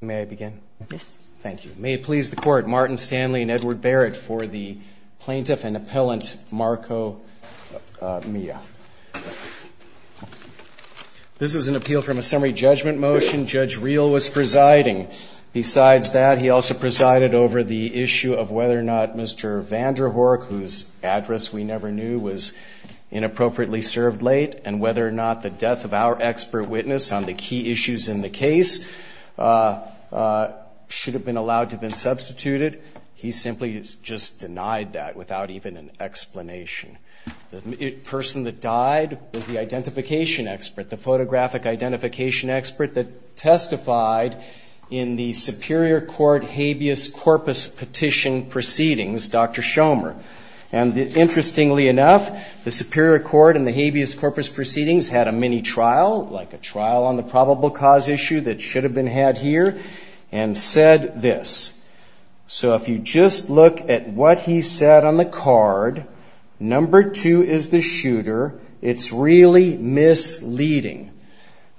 May I begin? Yes. Thank you. May it please the Court, Martin Stanley and Edward Barrett for the Plaintiff and Appellant Marco Milla. This is an appeal from a summary judgment motion Judge Reel was presiding. Besides that, he also presided over the issue of whether or not Mr. Vanderhorck, whose address we never knew, was inappropriately served late and whether or not the death of our expert witness on the key issues in the case should have been allowed to have been substituted. He simply just denied that without even an explanation. The person that died was the identification expert, the photographic identification expert that testified in the Superior Court habeas corpus petition proceedings, Dr. Schomer. And interestingly enough, the Superior Court in the habeas corpus proceedings had a mini-trial, like a trial on the probable cause issue that should have been had here, and said this. So if you just look at what he said on the card, number two is the shooter, it's really misleading.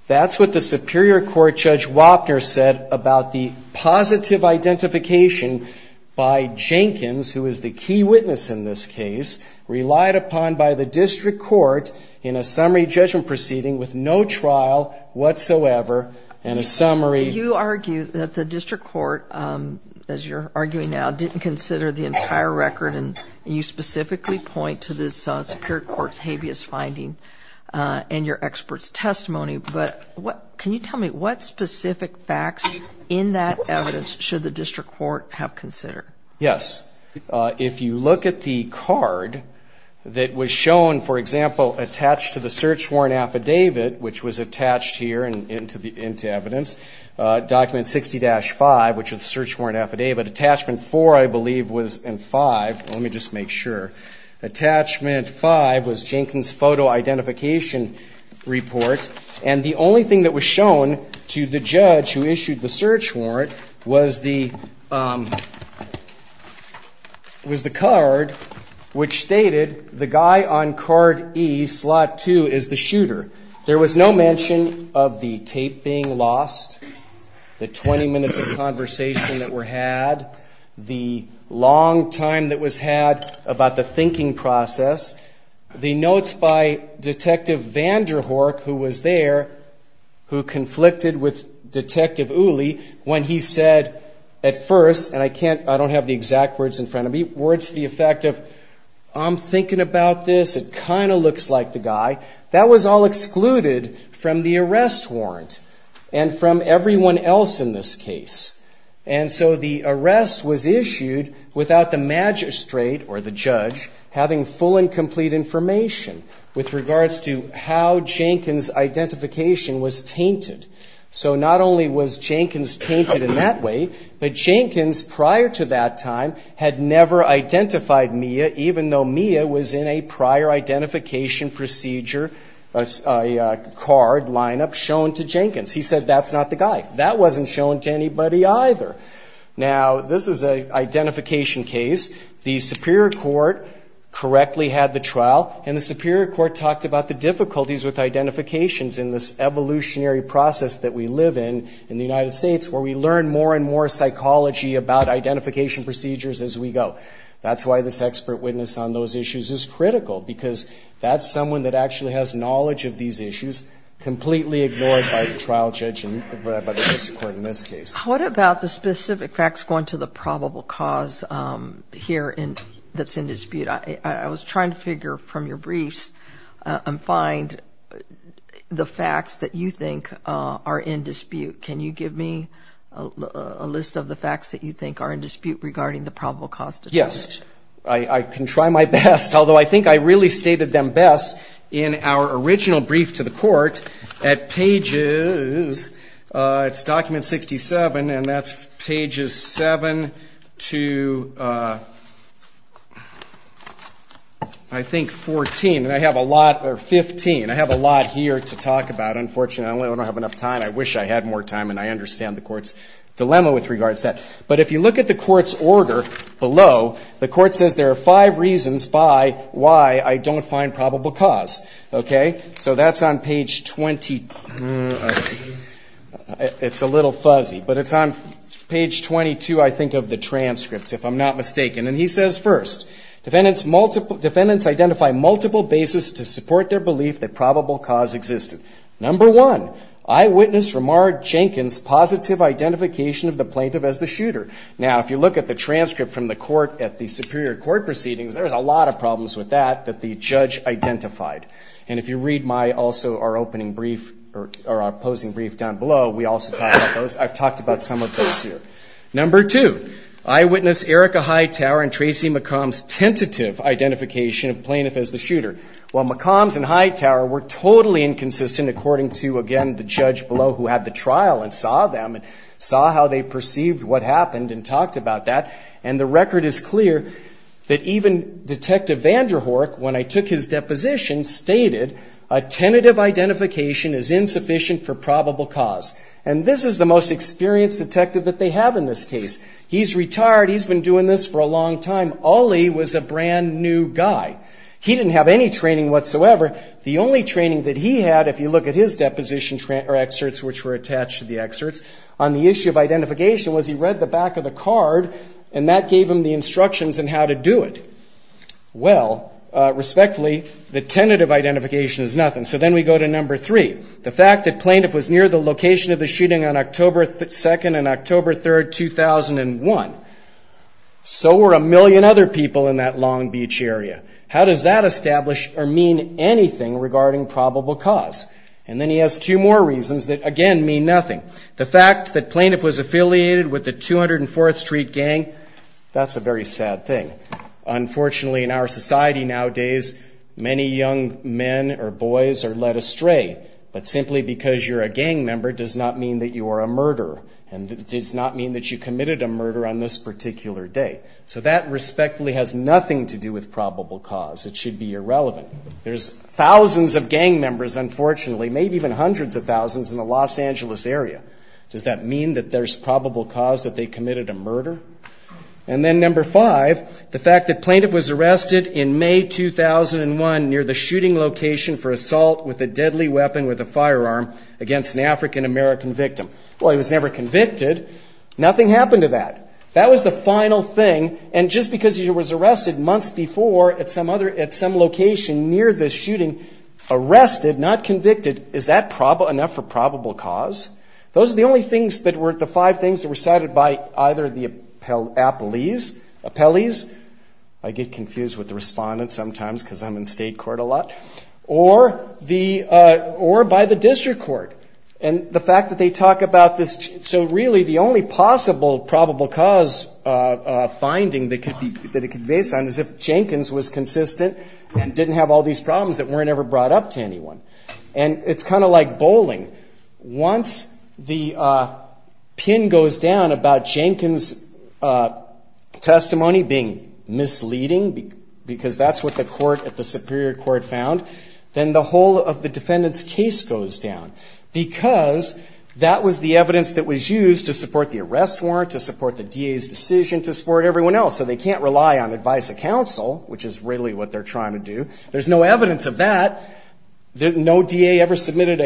That's what the Superior Court Judge Wapner said about the positive identification by Jenkins, who is the key witness in this case, relied upon by the district court in a summary judgment proceeding with no trial whatsoever, and a summary. You argue that the district court, as you're arguing now, didn't consider the entire record and you specifically point to this Superior Court's habeas finding in your expert's testimony. But can you tell me what specific facts in that evidence should the district court have considered? Yes. If you look at the card that was shown, for example, attached to the search warrant affidavit, which was attached here into evidence, document 60-5, which is the search warrant affidavit, attachment four, I believe, was in five. Let me just make sure. Attachment five was Jenkins' photo identification report, and the only thing that was shown to the judge who issued the search warrant was the card which stated the guy on card E, slot two, is the shooter. There was no mention of the tape being lost, the 20 minutes of conversation that were had, the long time that was had about the thinking process. The notes by Detective Vanderhorck, who was there, who conflicted with Detective Uli, when he said at first, and I don't have the exact words in front of me, words to the effect of, I'm thinking about this, it kind of looks like the guy. That was all excluded from the arrest warrant and from everyone else in this case. And so the arrest was issued without the magistrate or the judge having full and complete information with regards to how Jenkins' identification was tainted. So not only was Jenkins' tainted in that way, but Jenkins prior to that time had never identified Mia, even though Mia was in a prior identification procedure card lineup shown to Jenkins. He said that's not the guy. That wasn't shown to anybody either. Now this is an identification case. The Superior Court correctly had the trial, and the Superior Court talked about the difficulties with identifications in this evolutionary process that we live in in the United States where we learn more and more psychology about identification procedures as we go. That's why this expert witness on those issues is critical, because that's someone that actually has knowledge of these issues, completely ignored by the trial judge and by the district court in this case. What about the specific facts going to the probable cause here that's in dispute? I was trying to figure from your briefs and find the facts that you think are in dispute. Can you give me a list of the facts that you think are in dispute regarding the probable cause determination? Yes. I can try my best, although I think I really stated them best in our original brief to the court at pages, it's document 67, and that's pages 7 to I think 14. I have a lot, or 15. I have a lot here to talk about. Unfortunately, I don't have enough time. I wish I had more time, and I understand the court's dilemma with regards to that. But if you look at the court's order below, the court says there are five reasons by why I don't find probable cause. Okay? So that's on page 20. It's a little fuzzy, but it's on page 22, I think, of the transcripts, if I'm not mistaken. And he says first, defendants identify multiple bases to support their belief that probable cause existed. Number one, I Now, if you look at the transcript from the court at the Superior Court proceedings, there's a lot of problems with that, that the judge identified. And if you read my, also our opening brief, or our opposing brief down below, we also talk about those. I've talked about some of those here. Number two, I witnessed Erica Hightower and Tracy McCombs' tentative identification of plaintiff as the shooter. While McCombs and Hightower were totally inconsistent according to, again, the judge below who had the trial and saw them and saw how they perceived what happened and talked about that. And the record is clear that even Detective Vanderhoek, when I took his deposition, stated a tentative identification is insufficient for probable cause. And this is the most experienced detective that they have in this case. He's retired. He's been doing this for a long time. Ollie was a brand new guy. He didn't have any training whatsoever. The only training that he had, if you look at his deposition excerpts, which back of the card, and that gave him the instructions on how to do it. Well, respectfully, the tentative identification is nothing. So then we go to number three. The fact that plaintiff was near the location of the shooting on October 2nd and October 3rd, 2001. So were a million other people in that Long Beach area. How does that establish or mean anything regarding probable cause? And then he has two more reasons that, again, mean nothing. The fact that plaintiff was affiliated with the 204th Street Gang, that's a very sad thing. Unfortunately in our society nowadays, many young men or boys are led astray. But simply because you're a gang member does not mean that you are a murderer. And it does not mean that you committed a murder on this particular day. So that respectfully has nothing to do with probable cause. It should be irrelevant. There's thousands of gang members, unfortunately, maybe even hundreds of thousands in the Los Angeles area. Does that mean that there's probable cause that they committed a murder? And then number five, the fact that plaintiff was arrested in May 2001 near the shooting location for assault with a deadly weapon with a firearm against an African-American victim. Well, he was never convicted. Nothing happened to that. That was the final thing. And just because he was arrested months before at some location near the shooting, arrested, not convicted, is that enough for probable cause? Those are the only things that were the five things that were cited by either the appellees. I get confused with the respondents sometimes because I'm in state court a lot. Or by the district court. And the fact that they talk about this, so really the only possible probable cause finding that it could be based on is if Jenkins was consistent and didn't have all these problems that weren't ever brought up to anyone. And it's kind of like bowling. Once the pin goes down about Jenkins' testimony being misleading, because that's what the court at the Superior Court found, then the whole of the defendant's case goes down. Because that was the evidence that was used to support the arrest warrant, to support the DA's decision, to support everyone else. So they can't rely on advice of counsel, which is really what they're trying to do. There's no evidence of that. No DA ever submitted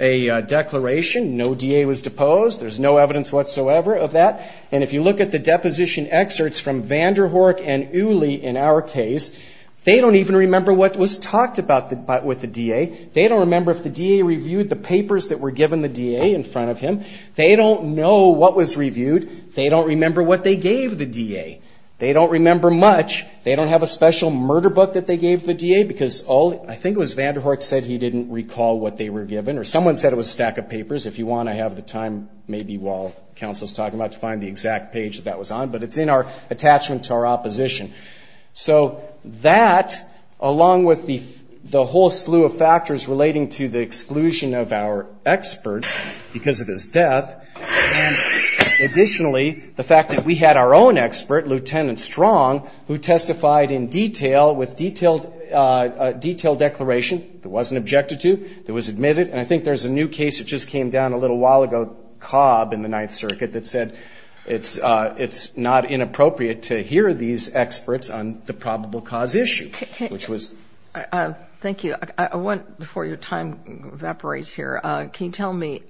a declaration. No DA was deposed. There's no evidence whatsoever of that. And if you look at the deposition excerpts from Vanderhoek and Uli in our case, they don't even remember what was talked about with the DA. They don't remember if the DA reviewed the papers that were given the DA in front of him. They don't know what was reviewed. They don't remember what they gave the DA. They don't remember much. They don't have a special murder book that they gave the DA, because all I think it was Vanderhoek said he didn't recall what they were given. Or someone said it was a stack of papers. If you want to have the time maybe while counsel is talking about it to find the exact page that that was on. But it's in our attachment to our opposition. So that, along with the whole slew of factors relating to the exclusion of our expert because of his death, and additionally the fact that we had our own expert, Lieutenant Strong, who testified in detail with detailed declaration that wasn't objected to, that was admitted. And I think there's a new case that just came down a little while ago, Cobb in the Ninth Circuit, that said it's not inappropriate to hear these experts on the probable cause issue, which was. Thank you. I want, before your time evaporates here, can you tell me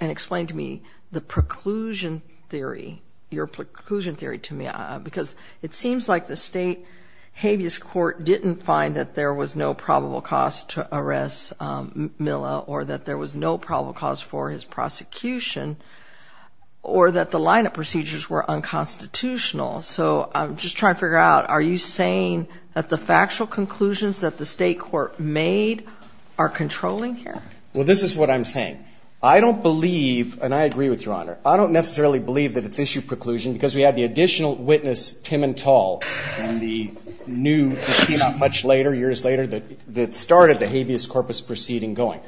and explain to me the preclusion theory, your preclusion theory to me. Because it seems like the state habeas court didn't find that there was no probable cause to arrest Milla, or that there was no probable cause for his prosecution, or that the lineup procedures were unconstitutional. So I'm just trying to figure out, are you saying that the factual conclusions that the state court made are controlling here? Well, this is what I'm saying. I don't believe, and I agree with your Honor, I don't necessarily believe that it's issue preclusion because we had the additional witness, Pimentel, and the new, it came out much later, years later, that started the habeas corpus proceeding going.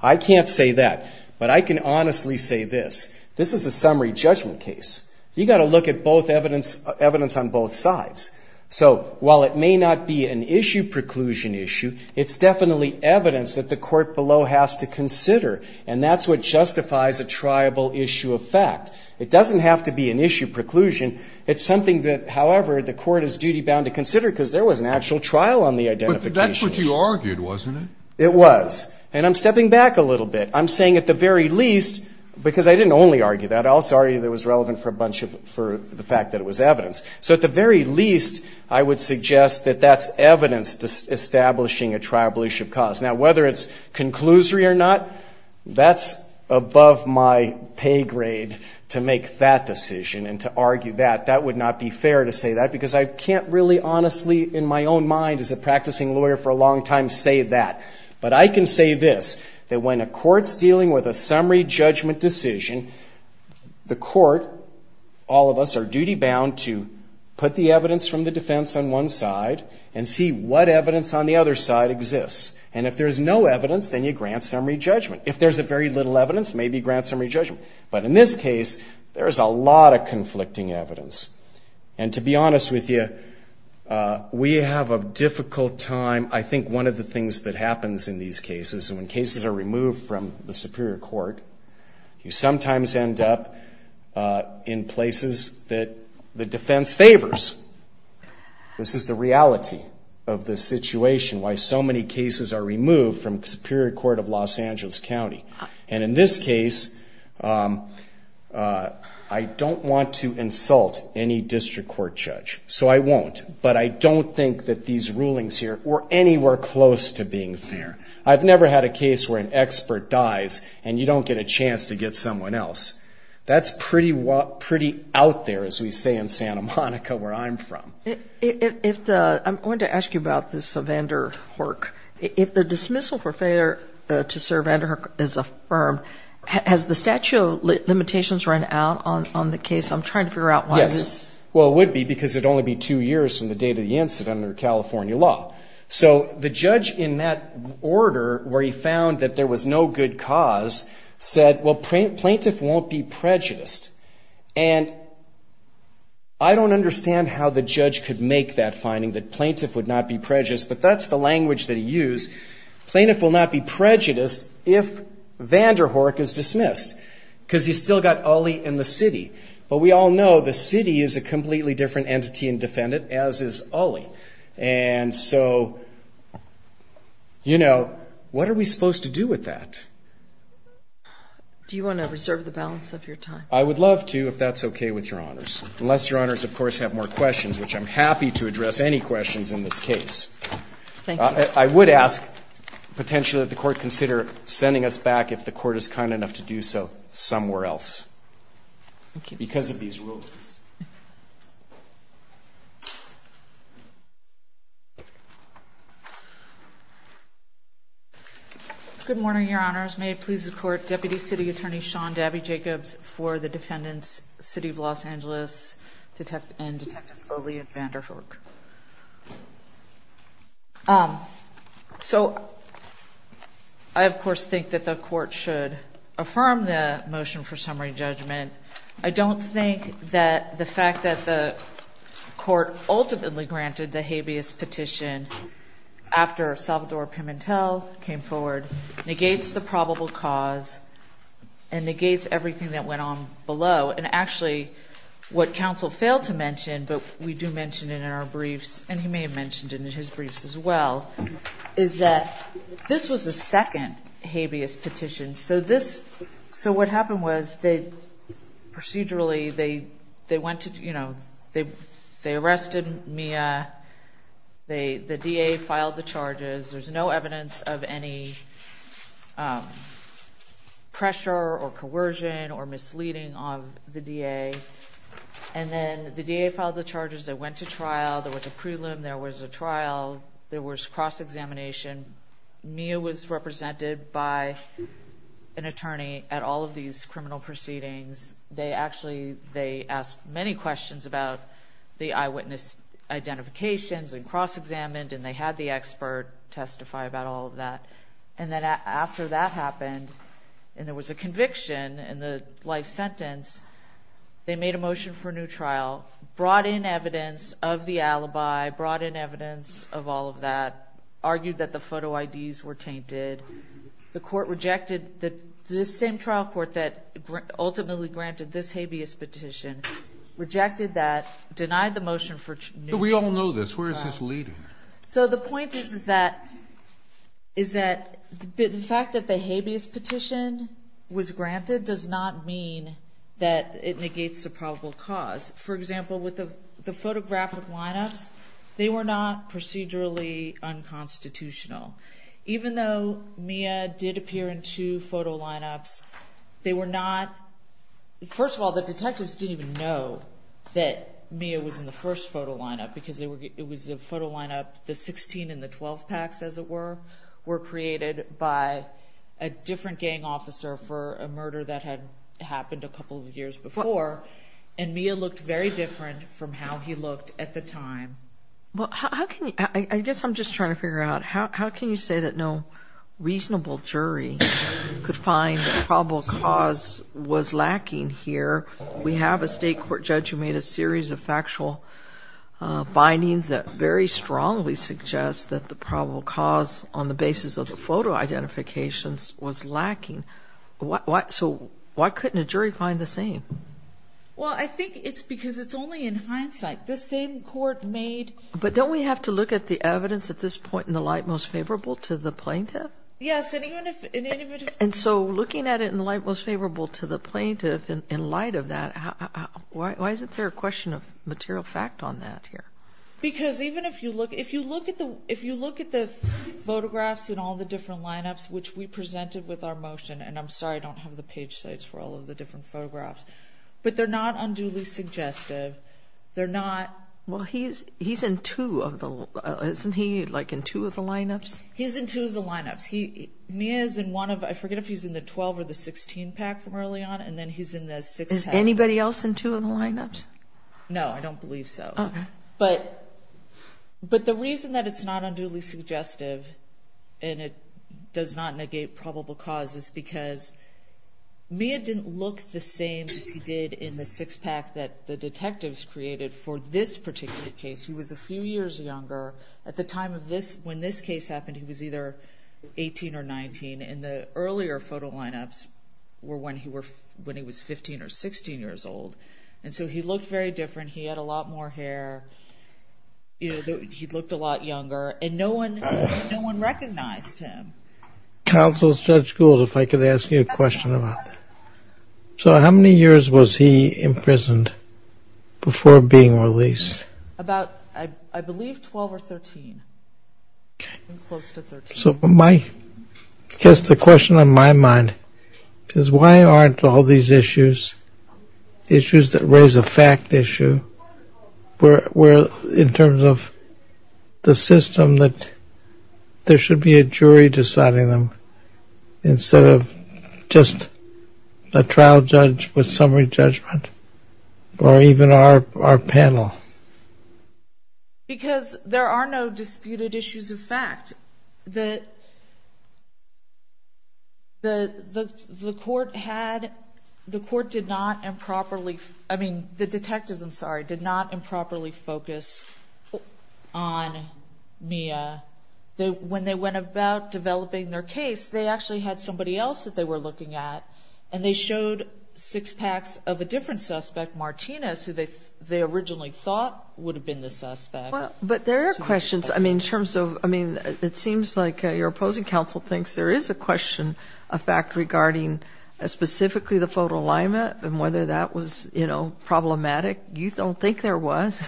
I can't say that, but I can honestly say this. This is a summary judgment case. You got to look at both evidence, evidence on both sides. So while it may not be an issue preclusion issue, it's definitely evidence that the court below has to consider. And that's what justifies a triable issue of fact. It doesn't have to be an issue preclusion. It's something that, however, the court is duty bound to consider because there was an actual trial on the identification issues. But that's what you argued, wasn't it? It was. And I'm stepping back a little bit. I'm saying at the very least, because I didn't only argue that, I also argued that it was relevant for a bunch of, for the fact that it was evidence. So at the very least, I would suggest that that's evidence establishing a triable issue of cause. Now, whether it's conclusory or not, that's above my pay grade to make that decision and to argue that. That would not be fair to say that because I can't really honestly, in my own mind as a practicing lawyer for a long time, say that. But I can say this, that when a court's dealing with a summary judgment decision, the court, all of us, are duty bound to put the evidence from the defense on one side and see what evidence on the other side exists. And if there's no evidence, then you grant summary judgment. If there's very little evidence, maybe you grant summary judgment. But in this case, there's a lot of conflicting evidence. And to be honest with you, we have a difficult time. I think one of the things that happens in these cases, when cases are removed from the Superior Court, you sometimes end up in places that the defense favors. This is the reality of the situation, why so many cases are removed from the Superior Court of Los Angeles County. And in this case, I don't want to insult any district court judge, so I won't. But I don't think that these rulings here were anywhere close to being fair. I've never had a case where an expert dies and you don't get a chance to get someone else. That's pretty out there, as we say in Santa Monica, where I'm from. I wanted to ask you about this Vanderhoek. If the dismissal for failure to serve Vanderhoek is affirmed, has the statute of limitations run out on the case? I'm trying to figure out why this... Yes. Well, it would be because it would only be two years from the date of the incident under California law. So the judge, in that order, where he found that there was no good cause, said, well, plaintiff won't be prejudiced. And I don't understand how the judge could make that finding, that plaintiff would not be prejudiced, but that's the language that he used. Plaintiff will not be prejudiced if Vanderhoek is dismissed, because he's still got Ulley and the city. But we all know the city is a completely different entity and it's Ulley. And so, you know, what are we supposed to do with that? Do you want to reserve the balance of your time? I would love to, if that's okay with Your Honors. Unless Your Honors, of course, have more questions, which I'm happy to address any questions in this case. I would ask, potentially, that the Court consider sending us back, if the Court is kind enough to do so, somewhere else. Because of these rulings. Good morning, Your Honors. May it please the Court, Deputy City Attorney Sean Dabby Jacobs for the defendants, City of Los Angeles and Detectives Ulley and Vanderhoek. So, I, of course, think that the Court should affirm the motion for summary judgment. I don't think that the fact that the Court ultimately granted the habeas petition, after Salvador Pimentel came forward, negates the probable cause and negates everything that went on in our briefs, and he may have mentioned it in his briefs as well, is that this was a second habeas petition. So this, so what happened was that procedurally, they went to, you know, they arrested Mia. The DA filed the charges. There's no evidence of any pressure or coercion or misleading of the DA. And then the DA filed the charges. They went to trial. There was a prelim. There was a trial. There was cross-examination. Mia was represented by an attorney at all of these criminal proceedings. They actually, they asked many questions about the eyewitness identifications and cross-examined, and they had the expert testify about all of that. And then after that happened, and there was a conviction in the life sentence, they made a motion for a new trial, brought in evidence of the alibi, brought in evidence of all of that, argued that the photo IDs were tainted. The Court rejected the same trial court that ultimately granted this habeas petition, rejected that, denied the motion for new trial. We all know this. Where is this leading? So the point is that, is that the fact that the habeas petition was granted does not mean that it negates a probable cause. For example, with the photographic lineups, they were not procedurally unconstitutional. Even though Mia did appear in two photo lineups, they were not, first of all, the detectives didn't even know that Mia was in the first photo lineup because it was a photo lineup, the 16 and the 12 packs, as it were, were created by a different gang officer for a murder that had happened a couple of years before. And Mia looked very different from how he looked at the time. Well, how can you, I guess I'm just trying to figure out, how can you say that no reasonable jury could find the probable cause was lacking here? We have a state court judge who made a series of factual findings that very strongly suggest that the probable cause on the basis of the photo identifications was lacking. So why couldn't a jury find the same? Well, I think it's because it's only in hindsight. The same court made... But don't we have to look at the evidence at this point in the light most favorable to the plaintiff? Yes, and even if... And so looking at it in the light most favorable to the plaintiff in light of that, why isn't there a question of material fact on that here? Because even if you look at the photographs in all the different lineups, which we presented with our motion, and I'm sorry I don't have the page sites for all of the different photographs, but they're not unduly suggestive. They're not... Well, he's in two of the... Isn't he like in two of the lineups? He's in two of the lineups. Mia's in one of... I forget if he's in the 12 or the 16 pack from early on, and then he's in the six pack. Is anybody else in two of the lineups? No, I don't believe so. But the reason that it's not unduly suggestive and it does not negate probable cause is because Mia didn't look the same as he did in the six pack that the detectives created for this particular case. He was a few years younger. At the time of this, when this case happened, he was either 18 or 19, and the earlier photo lineups were when he was 15 or 16 years old, and so he looked very different. He had a lot more hair. He looked a lot younger, and no one recognized him. Counsel Judge Gould, if I could ask you a question about that. So how many years was he imprisoned before being released? About, I believe, 12 or 13, close to 13. So I guess the question on my mind is, why aren't all these issues, issues that raise a fact issue, where in terms of the system that there should be a jury deciding them instead of just a trial judge with summary judgment, or even our panel? Because there are no disputed issues of fact. The court had, the court did not improperly, I mean, the detectives, I'm sorry, did not improperly focus on Mia. When they went about developing their case, they actually had somebody else that they were looking at, and they showed six packs of a different suspect, Martinez, who they originally thought would have been the suspect. But there are questions, I mean, in terms of, I mean, it seems like your opposing counsel thinks there is a question of fact regarding specifically the photo alignment and whether that was problematic. You don't think there was.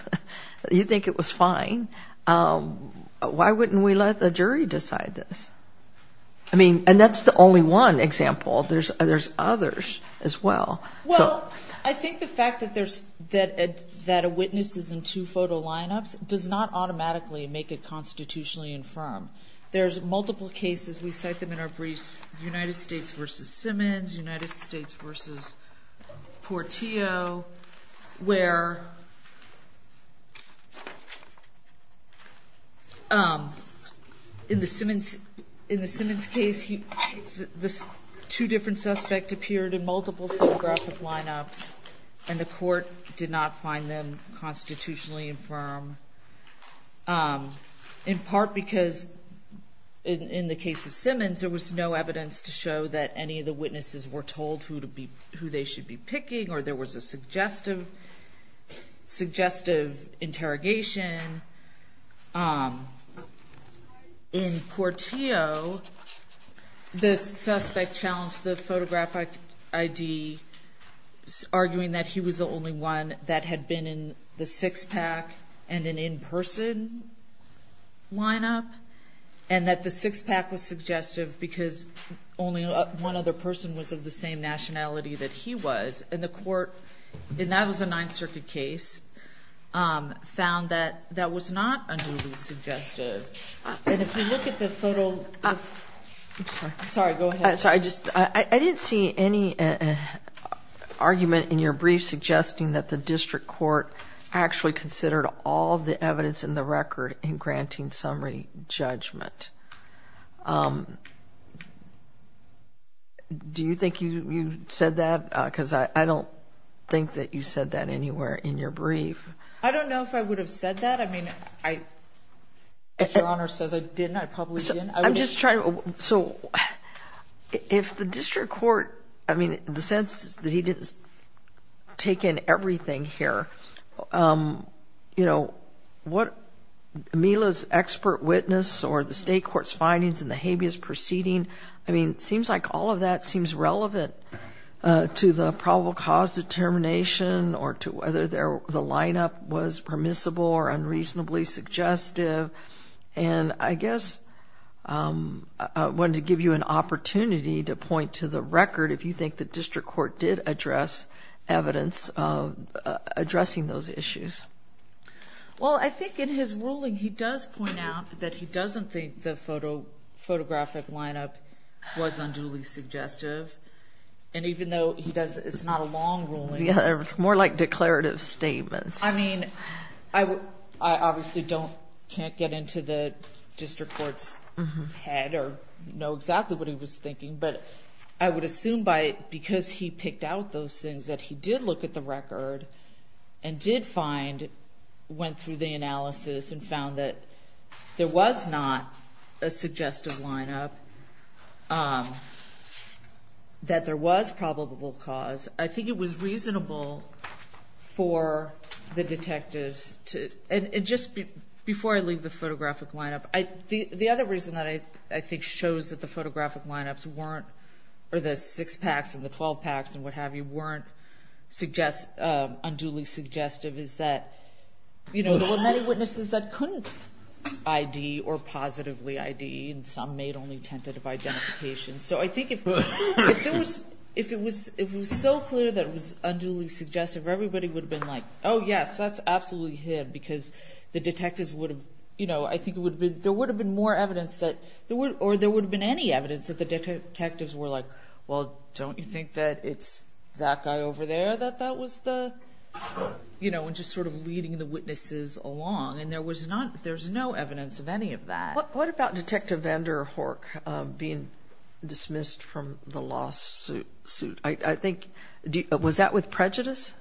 You think it was fine. Why wouldn't we let the jury decide this? I mean, and that's the only one example. There's others as well. Well, I think the fact that a witness is in two photo lineups does not automatically make it constitutionally infirm. There's multiple cases, we cite them in our brief, United States versus Simmons, United States versus Portillo, where in the Simmons case, the two different suspects appeared in multiple photographic lineups, and the court did not find them constitutionally infirm, in part because in the case of Simmons, there was no evidence to show that any of the witnesses were told who they should be picking, or there was a suggestive interrogation. In Portillo, the suspect challenged the photographic ID, arguing that he was the only one that had been in the six-pack and an in-person lineup, and that the six-pack was suggestive because only one other person was of the same nationality that he was. And the court, and that was not unduly suggestive. And if you look at the photo, sorry, go ahead. Sorry, I just, I didn't see any argument in your brief suggesting that the district court actually considered all the evidence in the record in granting summary judgment. Do you think you said that? Because I don't think that you said that anywhere in your brief. I don't know if I would have said that. I mean, if Your Honor says I didn't, I probably didn't. I'm just trying to, so if the district court, I mean, the sense is that he didn't take in everything here, you know, what Mila's expert witness or the state court's findings in the habeas proceeding, I mean, it seems like all of that seems relevant to the probable cause determination or to whether the lineup was permissible or unreasonably suggestive. And I guess I wanted to give you an opportunity to point to the record if you think the district court did address evidence of addressing those issues. Well, I think in his ruling he does point out that he doesn't think the photographic is suggestive. And even though he does, it's not a long ruling. Yeah, it's more like declarative statements. I mean, I obviously don't, can't get into the district court's head or know exactly what he was thinking, but I would assume by, because he picked out those things that he did look at the record and did find, went through the analysis and found that there was not a suggestive lineup, that there was probable cause. I think it was reasonable for the detectives to, and just before I leave the photographic lineup, the other reason that I think shows that the photographic lineups weren't, or the six packs and the 12 packs and what have you, weren't unduly suggestive is that, you know, there were many witnesses that couldn't ID or positively ID, and some made only tentative identification. So I think if it was so clear that it was unduly suggestive, everybody would have been like, oh yes, that's absolutely him, because the detectives would have, you know, I think there would have been more evidence that, or there would have been any evidence that the detectives were like, well, don't you think that it's that guy over there that that was the, you know, and just sort of leading the witnesses along and there was not, there's no evidence of any of that. What about Detective Vanderhorck being dismissed from the lawsuit? I think, was that with prejudice?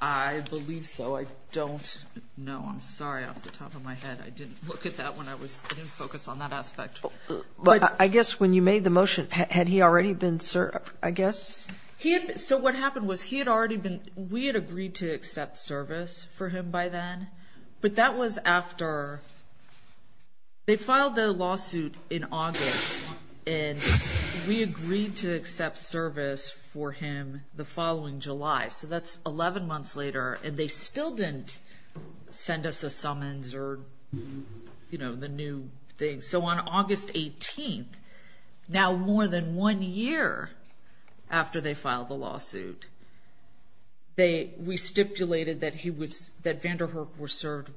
I believe so. I don't know. I'm sorry, off the top of my head. I didn't look at that when I was, I didn't focus on that aspect. But I guess when you made the motion, had he already been served, I guess? He had, so what happened was he had already been, we had agreed to accept service for him by then. But that was after, they filed the lawsuit in August and we agreed to accept service for him the following July. So that's 11 months later and they still didn't send us a summons or, you know, the new thing. So on August 18th, now more than one year after they filed the lawsuit, they, we stipulated that he was, that Vanderhorck was served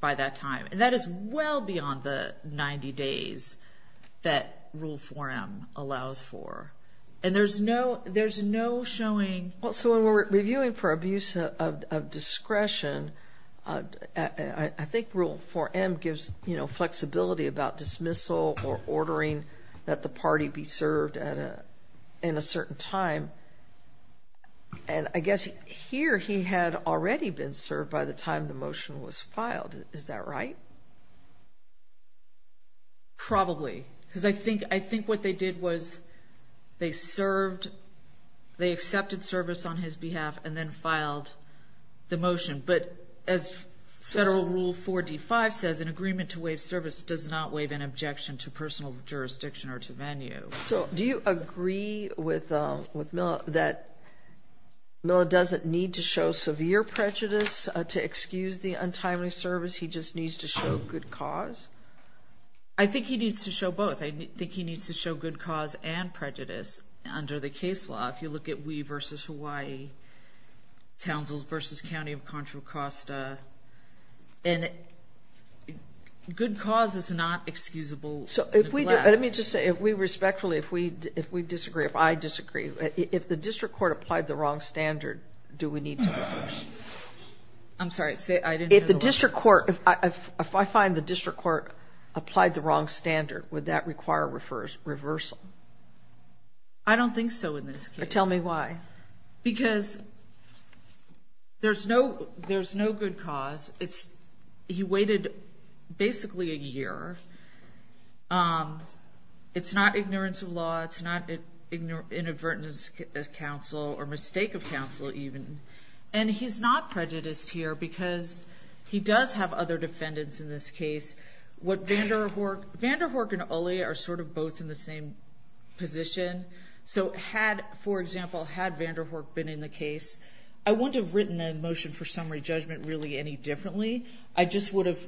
by that time. And that is well beyond the 90 days that Rule 4M allows for. And there's no, there's no showing. Well, so when we're reviewing for abuse of discretion, I think Rule 4M gives, you know, ordering that the party be served at a, in a certain time. And I guess here he had already been served by the time the motion was filed. Is that right? Probably. Because I think, I think what they did was they served, they accepted service on his behalf and then filed the motion. But as Federal Rule 4D-5 says, an agreement to give an objection to personal jurisdiction or to venue. So do you agree with, with Mila that Mila doesn't need to show severe prejudice to excuse the untimely service? He just needs to show good cause? I think he needs to show both. I think he needs to show good cause and prejudice under the case law. If you look at we versus Hawaii, Townsville versus County of Contra Costa, and good cause is not excusable. So if we, let me just say, if we respectfully, if we, if we disagree, if I disagree, if the district court applied the wrong standard, do we need to reverse it? I'm sorry, say, I didn't hear the question. If the district court, if I find the district court applied the wrong standard, would that require reversal? I don't think so in this case. Tell me why. Because there's no, there's no good cause. It's, he waited basically a year. It's not ignorance of law. It's not inadvertence of counsel or mistake of counsel even. And he's not prejudiced here because he does have other defendants in this case. What Vanderhoek, Vanderhoek and Ole are sort of both in the same position. So had, for example, had Vanderhoek been in the case, I wouldn't have written the motion for summary judgment really any differently. I just would have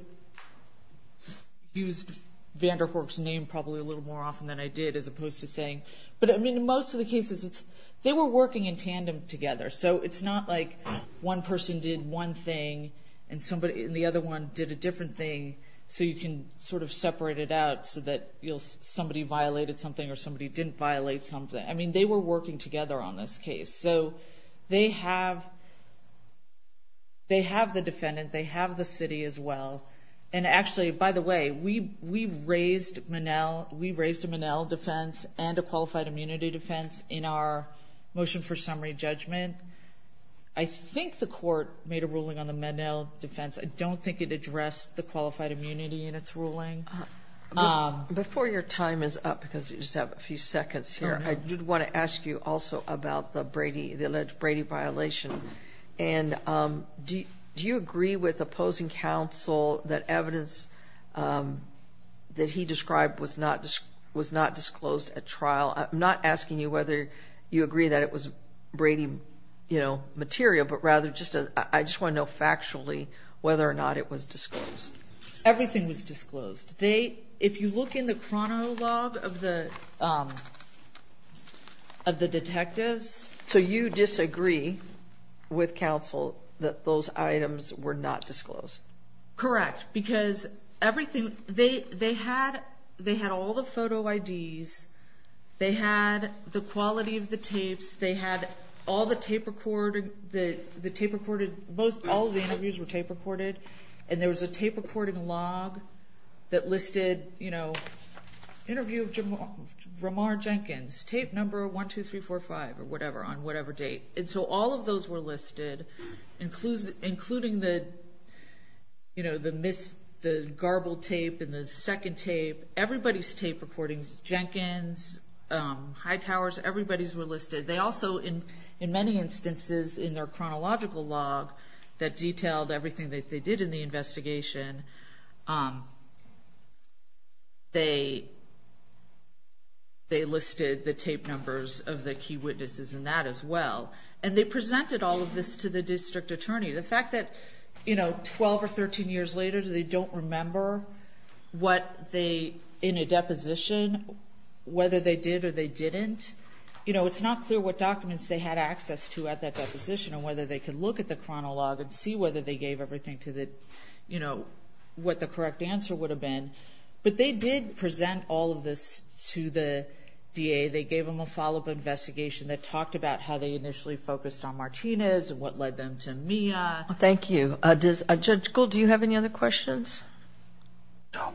used Vanderhoek's name probably a little more often than I did as opposed to saying, but I mean, in most of the cases, it's, they were working in tandem together. So it's not like one person did one thing and somebody, and the other one did a different thing so you can sort of separate it out so that you'll, somebody violated something or somebody didn't violate something. I mean, they were working together on this case. So they have, they have the defendant. They have the city as well. And actually, by the way, we raised Monell, we raised a Monell defense and a qualified immunity defense in our motion for summary judgment. I think the court made a ruling on the Monell defense. I don't think it addressed the qualified immunity in its ruling. Before your time is up, because you just have a few seconds here, I did want to ask you also about the Brady, the alleged Brady violation. And do you agree with opposing counsel that evidence that he described was not disclosed at trial? I'm not asking you whether you agree that it was Brady, you know, material, but rather just, I just want to know factually whether or not it was disclosed. Everything was disclosed. They, if you look in the chronolog of the, of the detectives. So you disagree with counsel that those items were not disclosed? Correct. Because everything, they, they had, they had all the photo IDs. They had the quality of the tapes. They had all the tape recorded, the tape recorded, most, all of the interviews were tape recorded and there was a tape recording log that listed, you know, interview of Jamar, Jamar Jenkins. Tape number one, two, three, four, five, or whatever, on whatever date. And so all of those were listed, including, including the, you know, the miss, the garbled tape and the second tape, everybody's tape recordings, Jenkins, Hightower's, everybody's were listed. They also in, in many instances in their chronological log that detailed everything that they did in the investigation, they, they listed the tape numbers of the key witnesses in that as well. And they presented all of this to the district attorney. The fact that, you know, 12 or 13 years later, they don't remember what they, in a deposition, whether they did or they didn't, you know, it's not clear what documents they had access to at that deposition and whether they could look at the chronolog and see whether they gave everything to the, you know, what the correct answer would have been, but they did present all of this to the DA. They gave them a follow-up investigation that talked about how they initially focused on Martinez and what led them to Mia. Thank you. Judge Gould, do you have any other questions? No.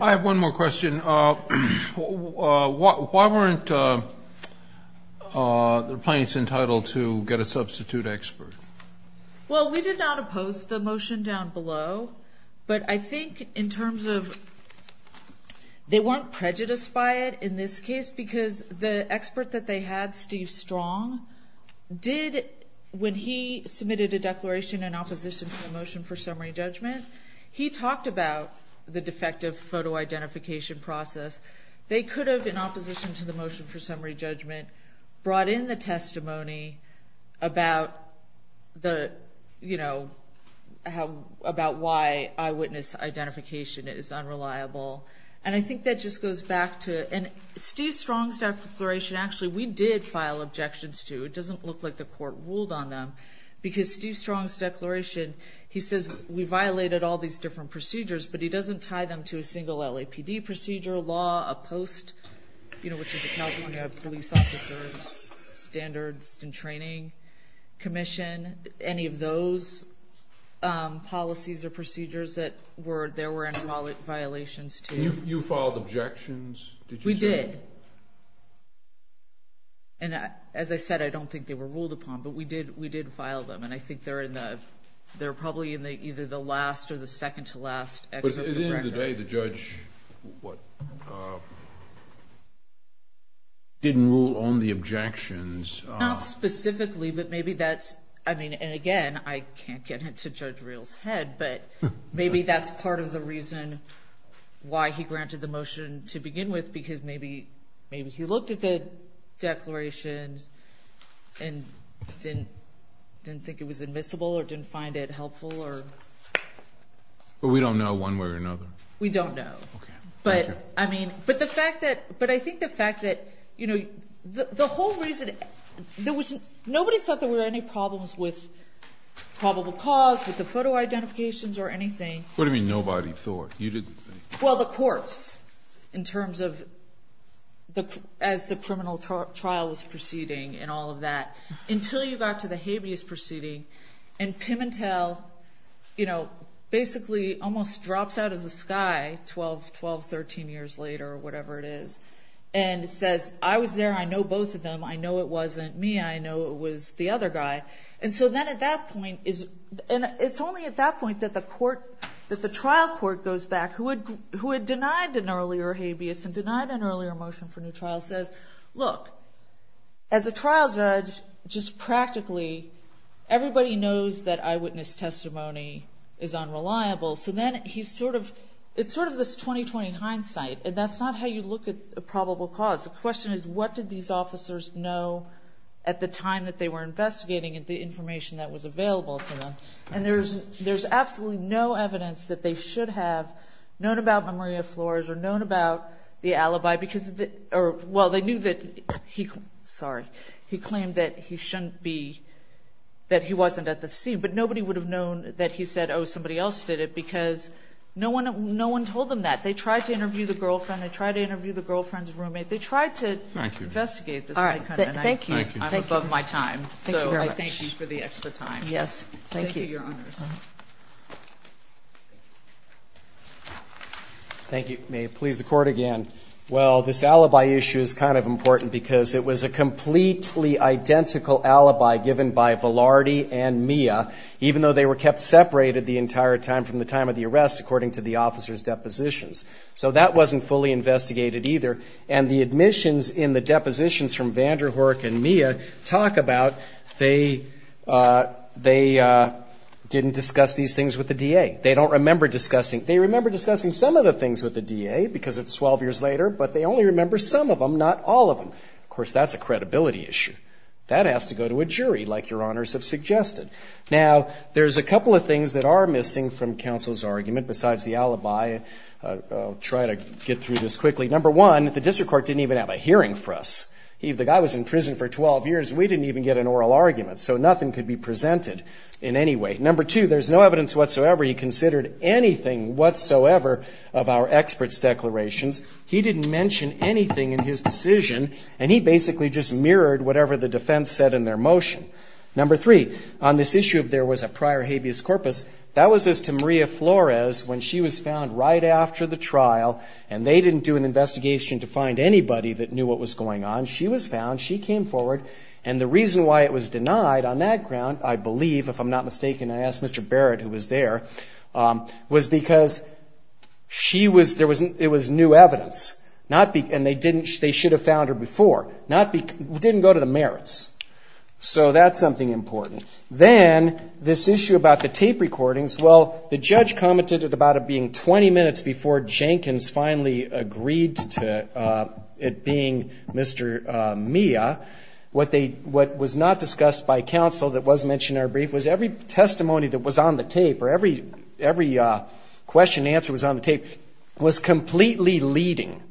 I have one more question. Why weren't the plaintiffs entitled to get a substitute expert? Well, we did not oppose the motion down below, but I think in terms of, they weren't prejudiced by it in this case because the expert that they had, Steve Strong, did, when he submitted a declaration in opposition to the motion for summary judgment, he talked about the defective photo identification process. They could have, in opposition to the motion for summary judgment, brought in the testimony about the, you know, about why eyewitness identification is unreliable, and I think that just goes back to, and Steve Strong's declaration, actually, we did file objections to, it doesn't look like the court ruled on them, because Steve Strong's declaration, he says, we violated all these different procedures, but he doesn't tie them to a single LAPD procedure, law, a post, you know, which is a California Police Officers Standards and Training Commission, any of those policies or procedures that were, there were any violations to. You filed objections, did you say? We did. And as I said, I don't think they were ruled upon, but we did file them, and I think they're in the, they're probably in the, either the last or the second to last excerpt of the record. But at the end of the day, the judge, what, didn't rule on the objections. Not specifically, but maybe that's, I mean, and again, I can't get into Judge Reel's head, but maybe that's part of the reason why he granted the motion to begin with, because maybe, maybe he looked at the declaration and didn't, didn't think it was admissible or didn't find it helpful or. But we don't know one way or another. We don't know. Okay, thank you. But, I mean, but the fact that, but I think the fact that, you know, the whole reason, there was, nobody thought there were any problems with probable cause, with the photo identifications or anything. What do you mean nobody thought? Well, the courts, in terms of, as the criminal trial was proceeding and all of that, until you got to the habeas proceeding, and Pimentel, you know, basically almost drops out of the sky 12, 12, 13 years later or whatever it is, and says, I was there, I know both of them, I know it wasn't me, I know it was the other guy. And so then at that point, and it's only at that point that the court, that the trial court goes back, who had denied an earlier habeas and denied an earlier motion for new trial, says, look, as a trial judge, just practically, everybody knows that eyewitness testimony is unreliable, so then he's sort of, it's sort of this 20-20 hindsight, and that's not how you look at probable cause. The question is, what did these officers know at the time that they were investigating and the information that was available to them? And there's absolutely no evidence that they should have known about Maria Flores or known about the alibi, because, or, well, they knew that he, sorry, he claimed that he shouldn't be, that he wasn't at the scene, but nobody would have known that he said, oh, somebody else did it, because no one told them that. They tried to interview the girlfriend, they tried to interview the girlfriend's roommate, they tried to investigate this. Thank you. All right. Thank you. I'm above my time. Thank you very much. So I thank you for the extra time. Yes. Thank you. Thank you, Your Honors. Thank you. May it please the Court again. Well, this alibi issue is kind of important, because it was a completely identical alibi given by Velardi and Mia, even though they were kept separated the entire time from the time of the arrest, according to the officers' depositions. So that wasn't fully investigated either. And the admissions in the depositions from Vanderhoek and Mia talk about they didn't discuss these things with the DA. They don't remember discussing, they remember discussing some of the things with the DA, because it's 12 years later, but they only remember some of them, not all of them. Of course, that's a credibility issue. That has to go to a jury, like Your Honors have suggested. Now, there's a couple of things that are missing from counsel's argument besides the alibi. I'll try to get through this quickly. Number one, the district court didn't even have a hearing for us. The guy was in prison for 12 years. We didn't even get an oral argument, so nothing could be presented in any way. Number two, there's no evidence whatsoever he considered anything whatsoever of our experts' declarations. He didn't mention anything in his decision, and he basically just mirrored whatever the defense said in their motion. Number three, on this issue of there was a prior habeas corpus, that was as to was found right after the trial, and they didn't do an investigation to find anybody that knew what was going on. She was found. She came forward, and the reason why it was denied on that ground, I believe, if I'm not mistaken, I asked Mr. Barrett, who was there, was because she was, it was new evidence, and they didn't, they should have found her before. It didn't go to the merits. So that's something important. Then, this issue about the tape recordings, well, the judge commented about it being 20 minutes before Jenkins finally agreed to it being Mr. Mia. What they, what was not discussed by counsel that was mentioned in our brief was every testimony that was on the tape, or every question and answer was on the tape, was completely leading.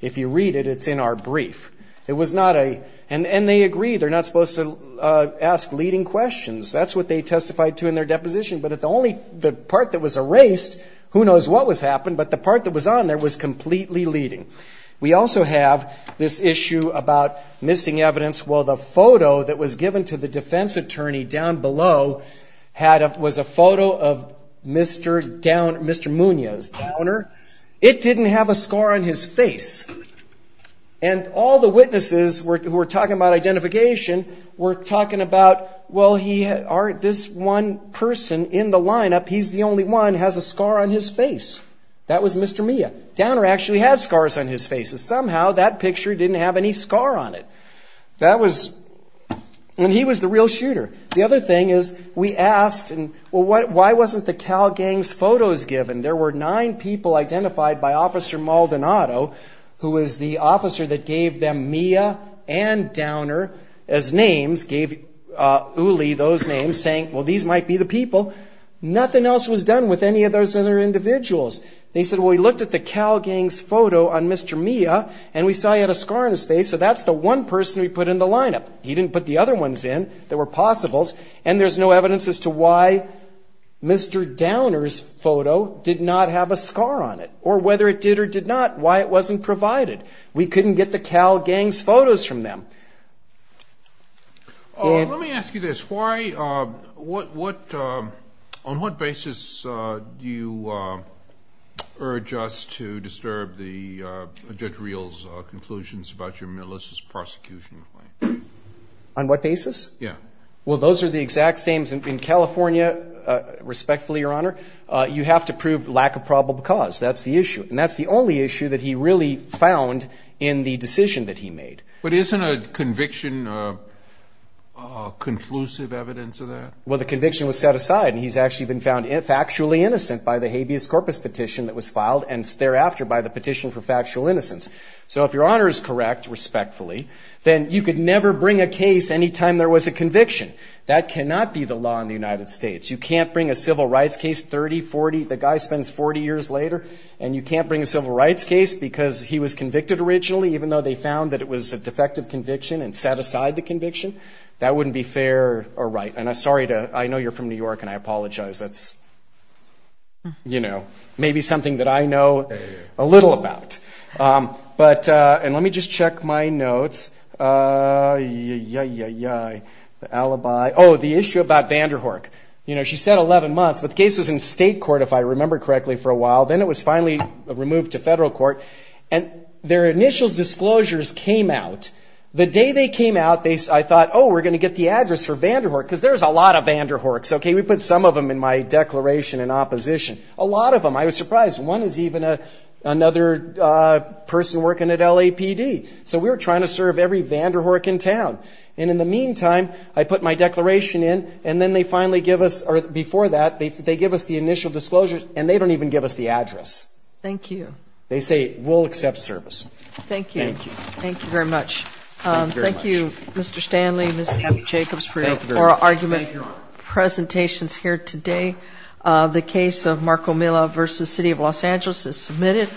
If you read it, it's in our brief. It was not a, and they agree, they're not supposed to ask leading questions. That's what they testified to in their deposition, but the only, the part that was erased, who knows what was happened, but the part that was on there was completely leading. We also have this issue about missing evidence. Well, the photo that was given to the defense attorney down below had a, was a photo of Mr. Downer, Mr. Munoz, Downer. It didn't have a score on his face. And all the witnesses were, who were talking about identification, were talking about, well, he, this one person in the lineup, he's the only one, has a scar on his face. That was Mr. Mia. Downer actually had scars on his face. Somehow, that picture didn't have any scar on it. That was, and he was the real shooter. The other thing is, we asked, well, why wasn't the Cal Gang's photos given? There were nine people identified by Officer Maldonado, who was the officer that gave them Mia and Downer as names, gave Uli those names, saying, well, these might be the people. Nothing else was done with any of those other individuals. They said, well, we looked at the Cal Gang's photo on Mr. Mia, and we saw he had a scar on his face, so that's the one person we put in the lineup. He didn't put the other ones in. There were possibles. And there's no evidence as to why Mr. Downer's photo did not have a scar on it, or whether it did or did not, why it wasn't provided. We couldn't get the Cal Gang's photos from them. Let me ask you this. Why, what, on what basis do you urge us to disturb the Judge Reel's conclusions about your militia's prosecution? On what basis? Yeah. Well, those are the exact same in California, respectfully, Your Honor. You have to prove lack of probable cause. That's the issue. And that's the only issue that he really found in the decision that he made. But isn't a conviction conclusive evidence of that? Well, the conviction was set aside, and he's actually been found factually innocent by the habeas corpus petition that was filed, and thereafter by the petition for factual innocence. So if Your Honor is correct, respectfully, then you could never bring a case any time there was a conviction. That cannot be the law in the United States. You can't bring a civil rights case 30, 40, the guy spends 40 years later, and you can't bring a civil rights case because he was convicted originally, even though they found that it was a defective conviction and set aside the conviction. That wouldn't be fair or right. And I'm sorry to, I know you're from New York, and I apologize. That's, you know, maybe something that I know a little about. But, and let me just check my notes. The alibi. Oh, the issue about Vanderhoek. You know, she said 11 months, but the case was in state court, if I remember correctly, for a while. Then it was finally removed to federal court. And their initial disclosures came out. The day they came out, I thought, oh, we're going to get the address for Vanderhoek, because there's a lot of Vanderhoeks. Okay, we put some of them in my declaration in opposition. A lot of them. I was surprised. One is even another person working at LAPD. So we were trying to serve every Vanderhoek in town. And in the meantime, I put my declaration in, and then they finally give us, or before that, they give us the initial disclosure, and they don't even give us the address. Thank you. They say, we'll accept service. Thank you. Thank you. Thank you very much. Thank you, Mr. Stanley and Ms. Jacobs, for your oral argument presentations here today. The case of Marco Milla v. City of Los Angeles is submitted.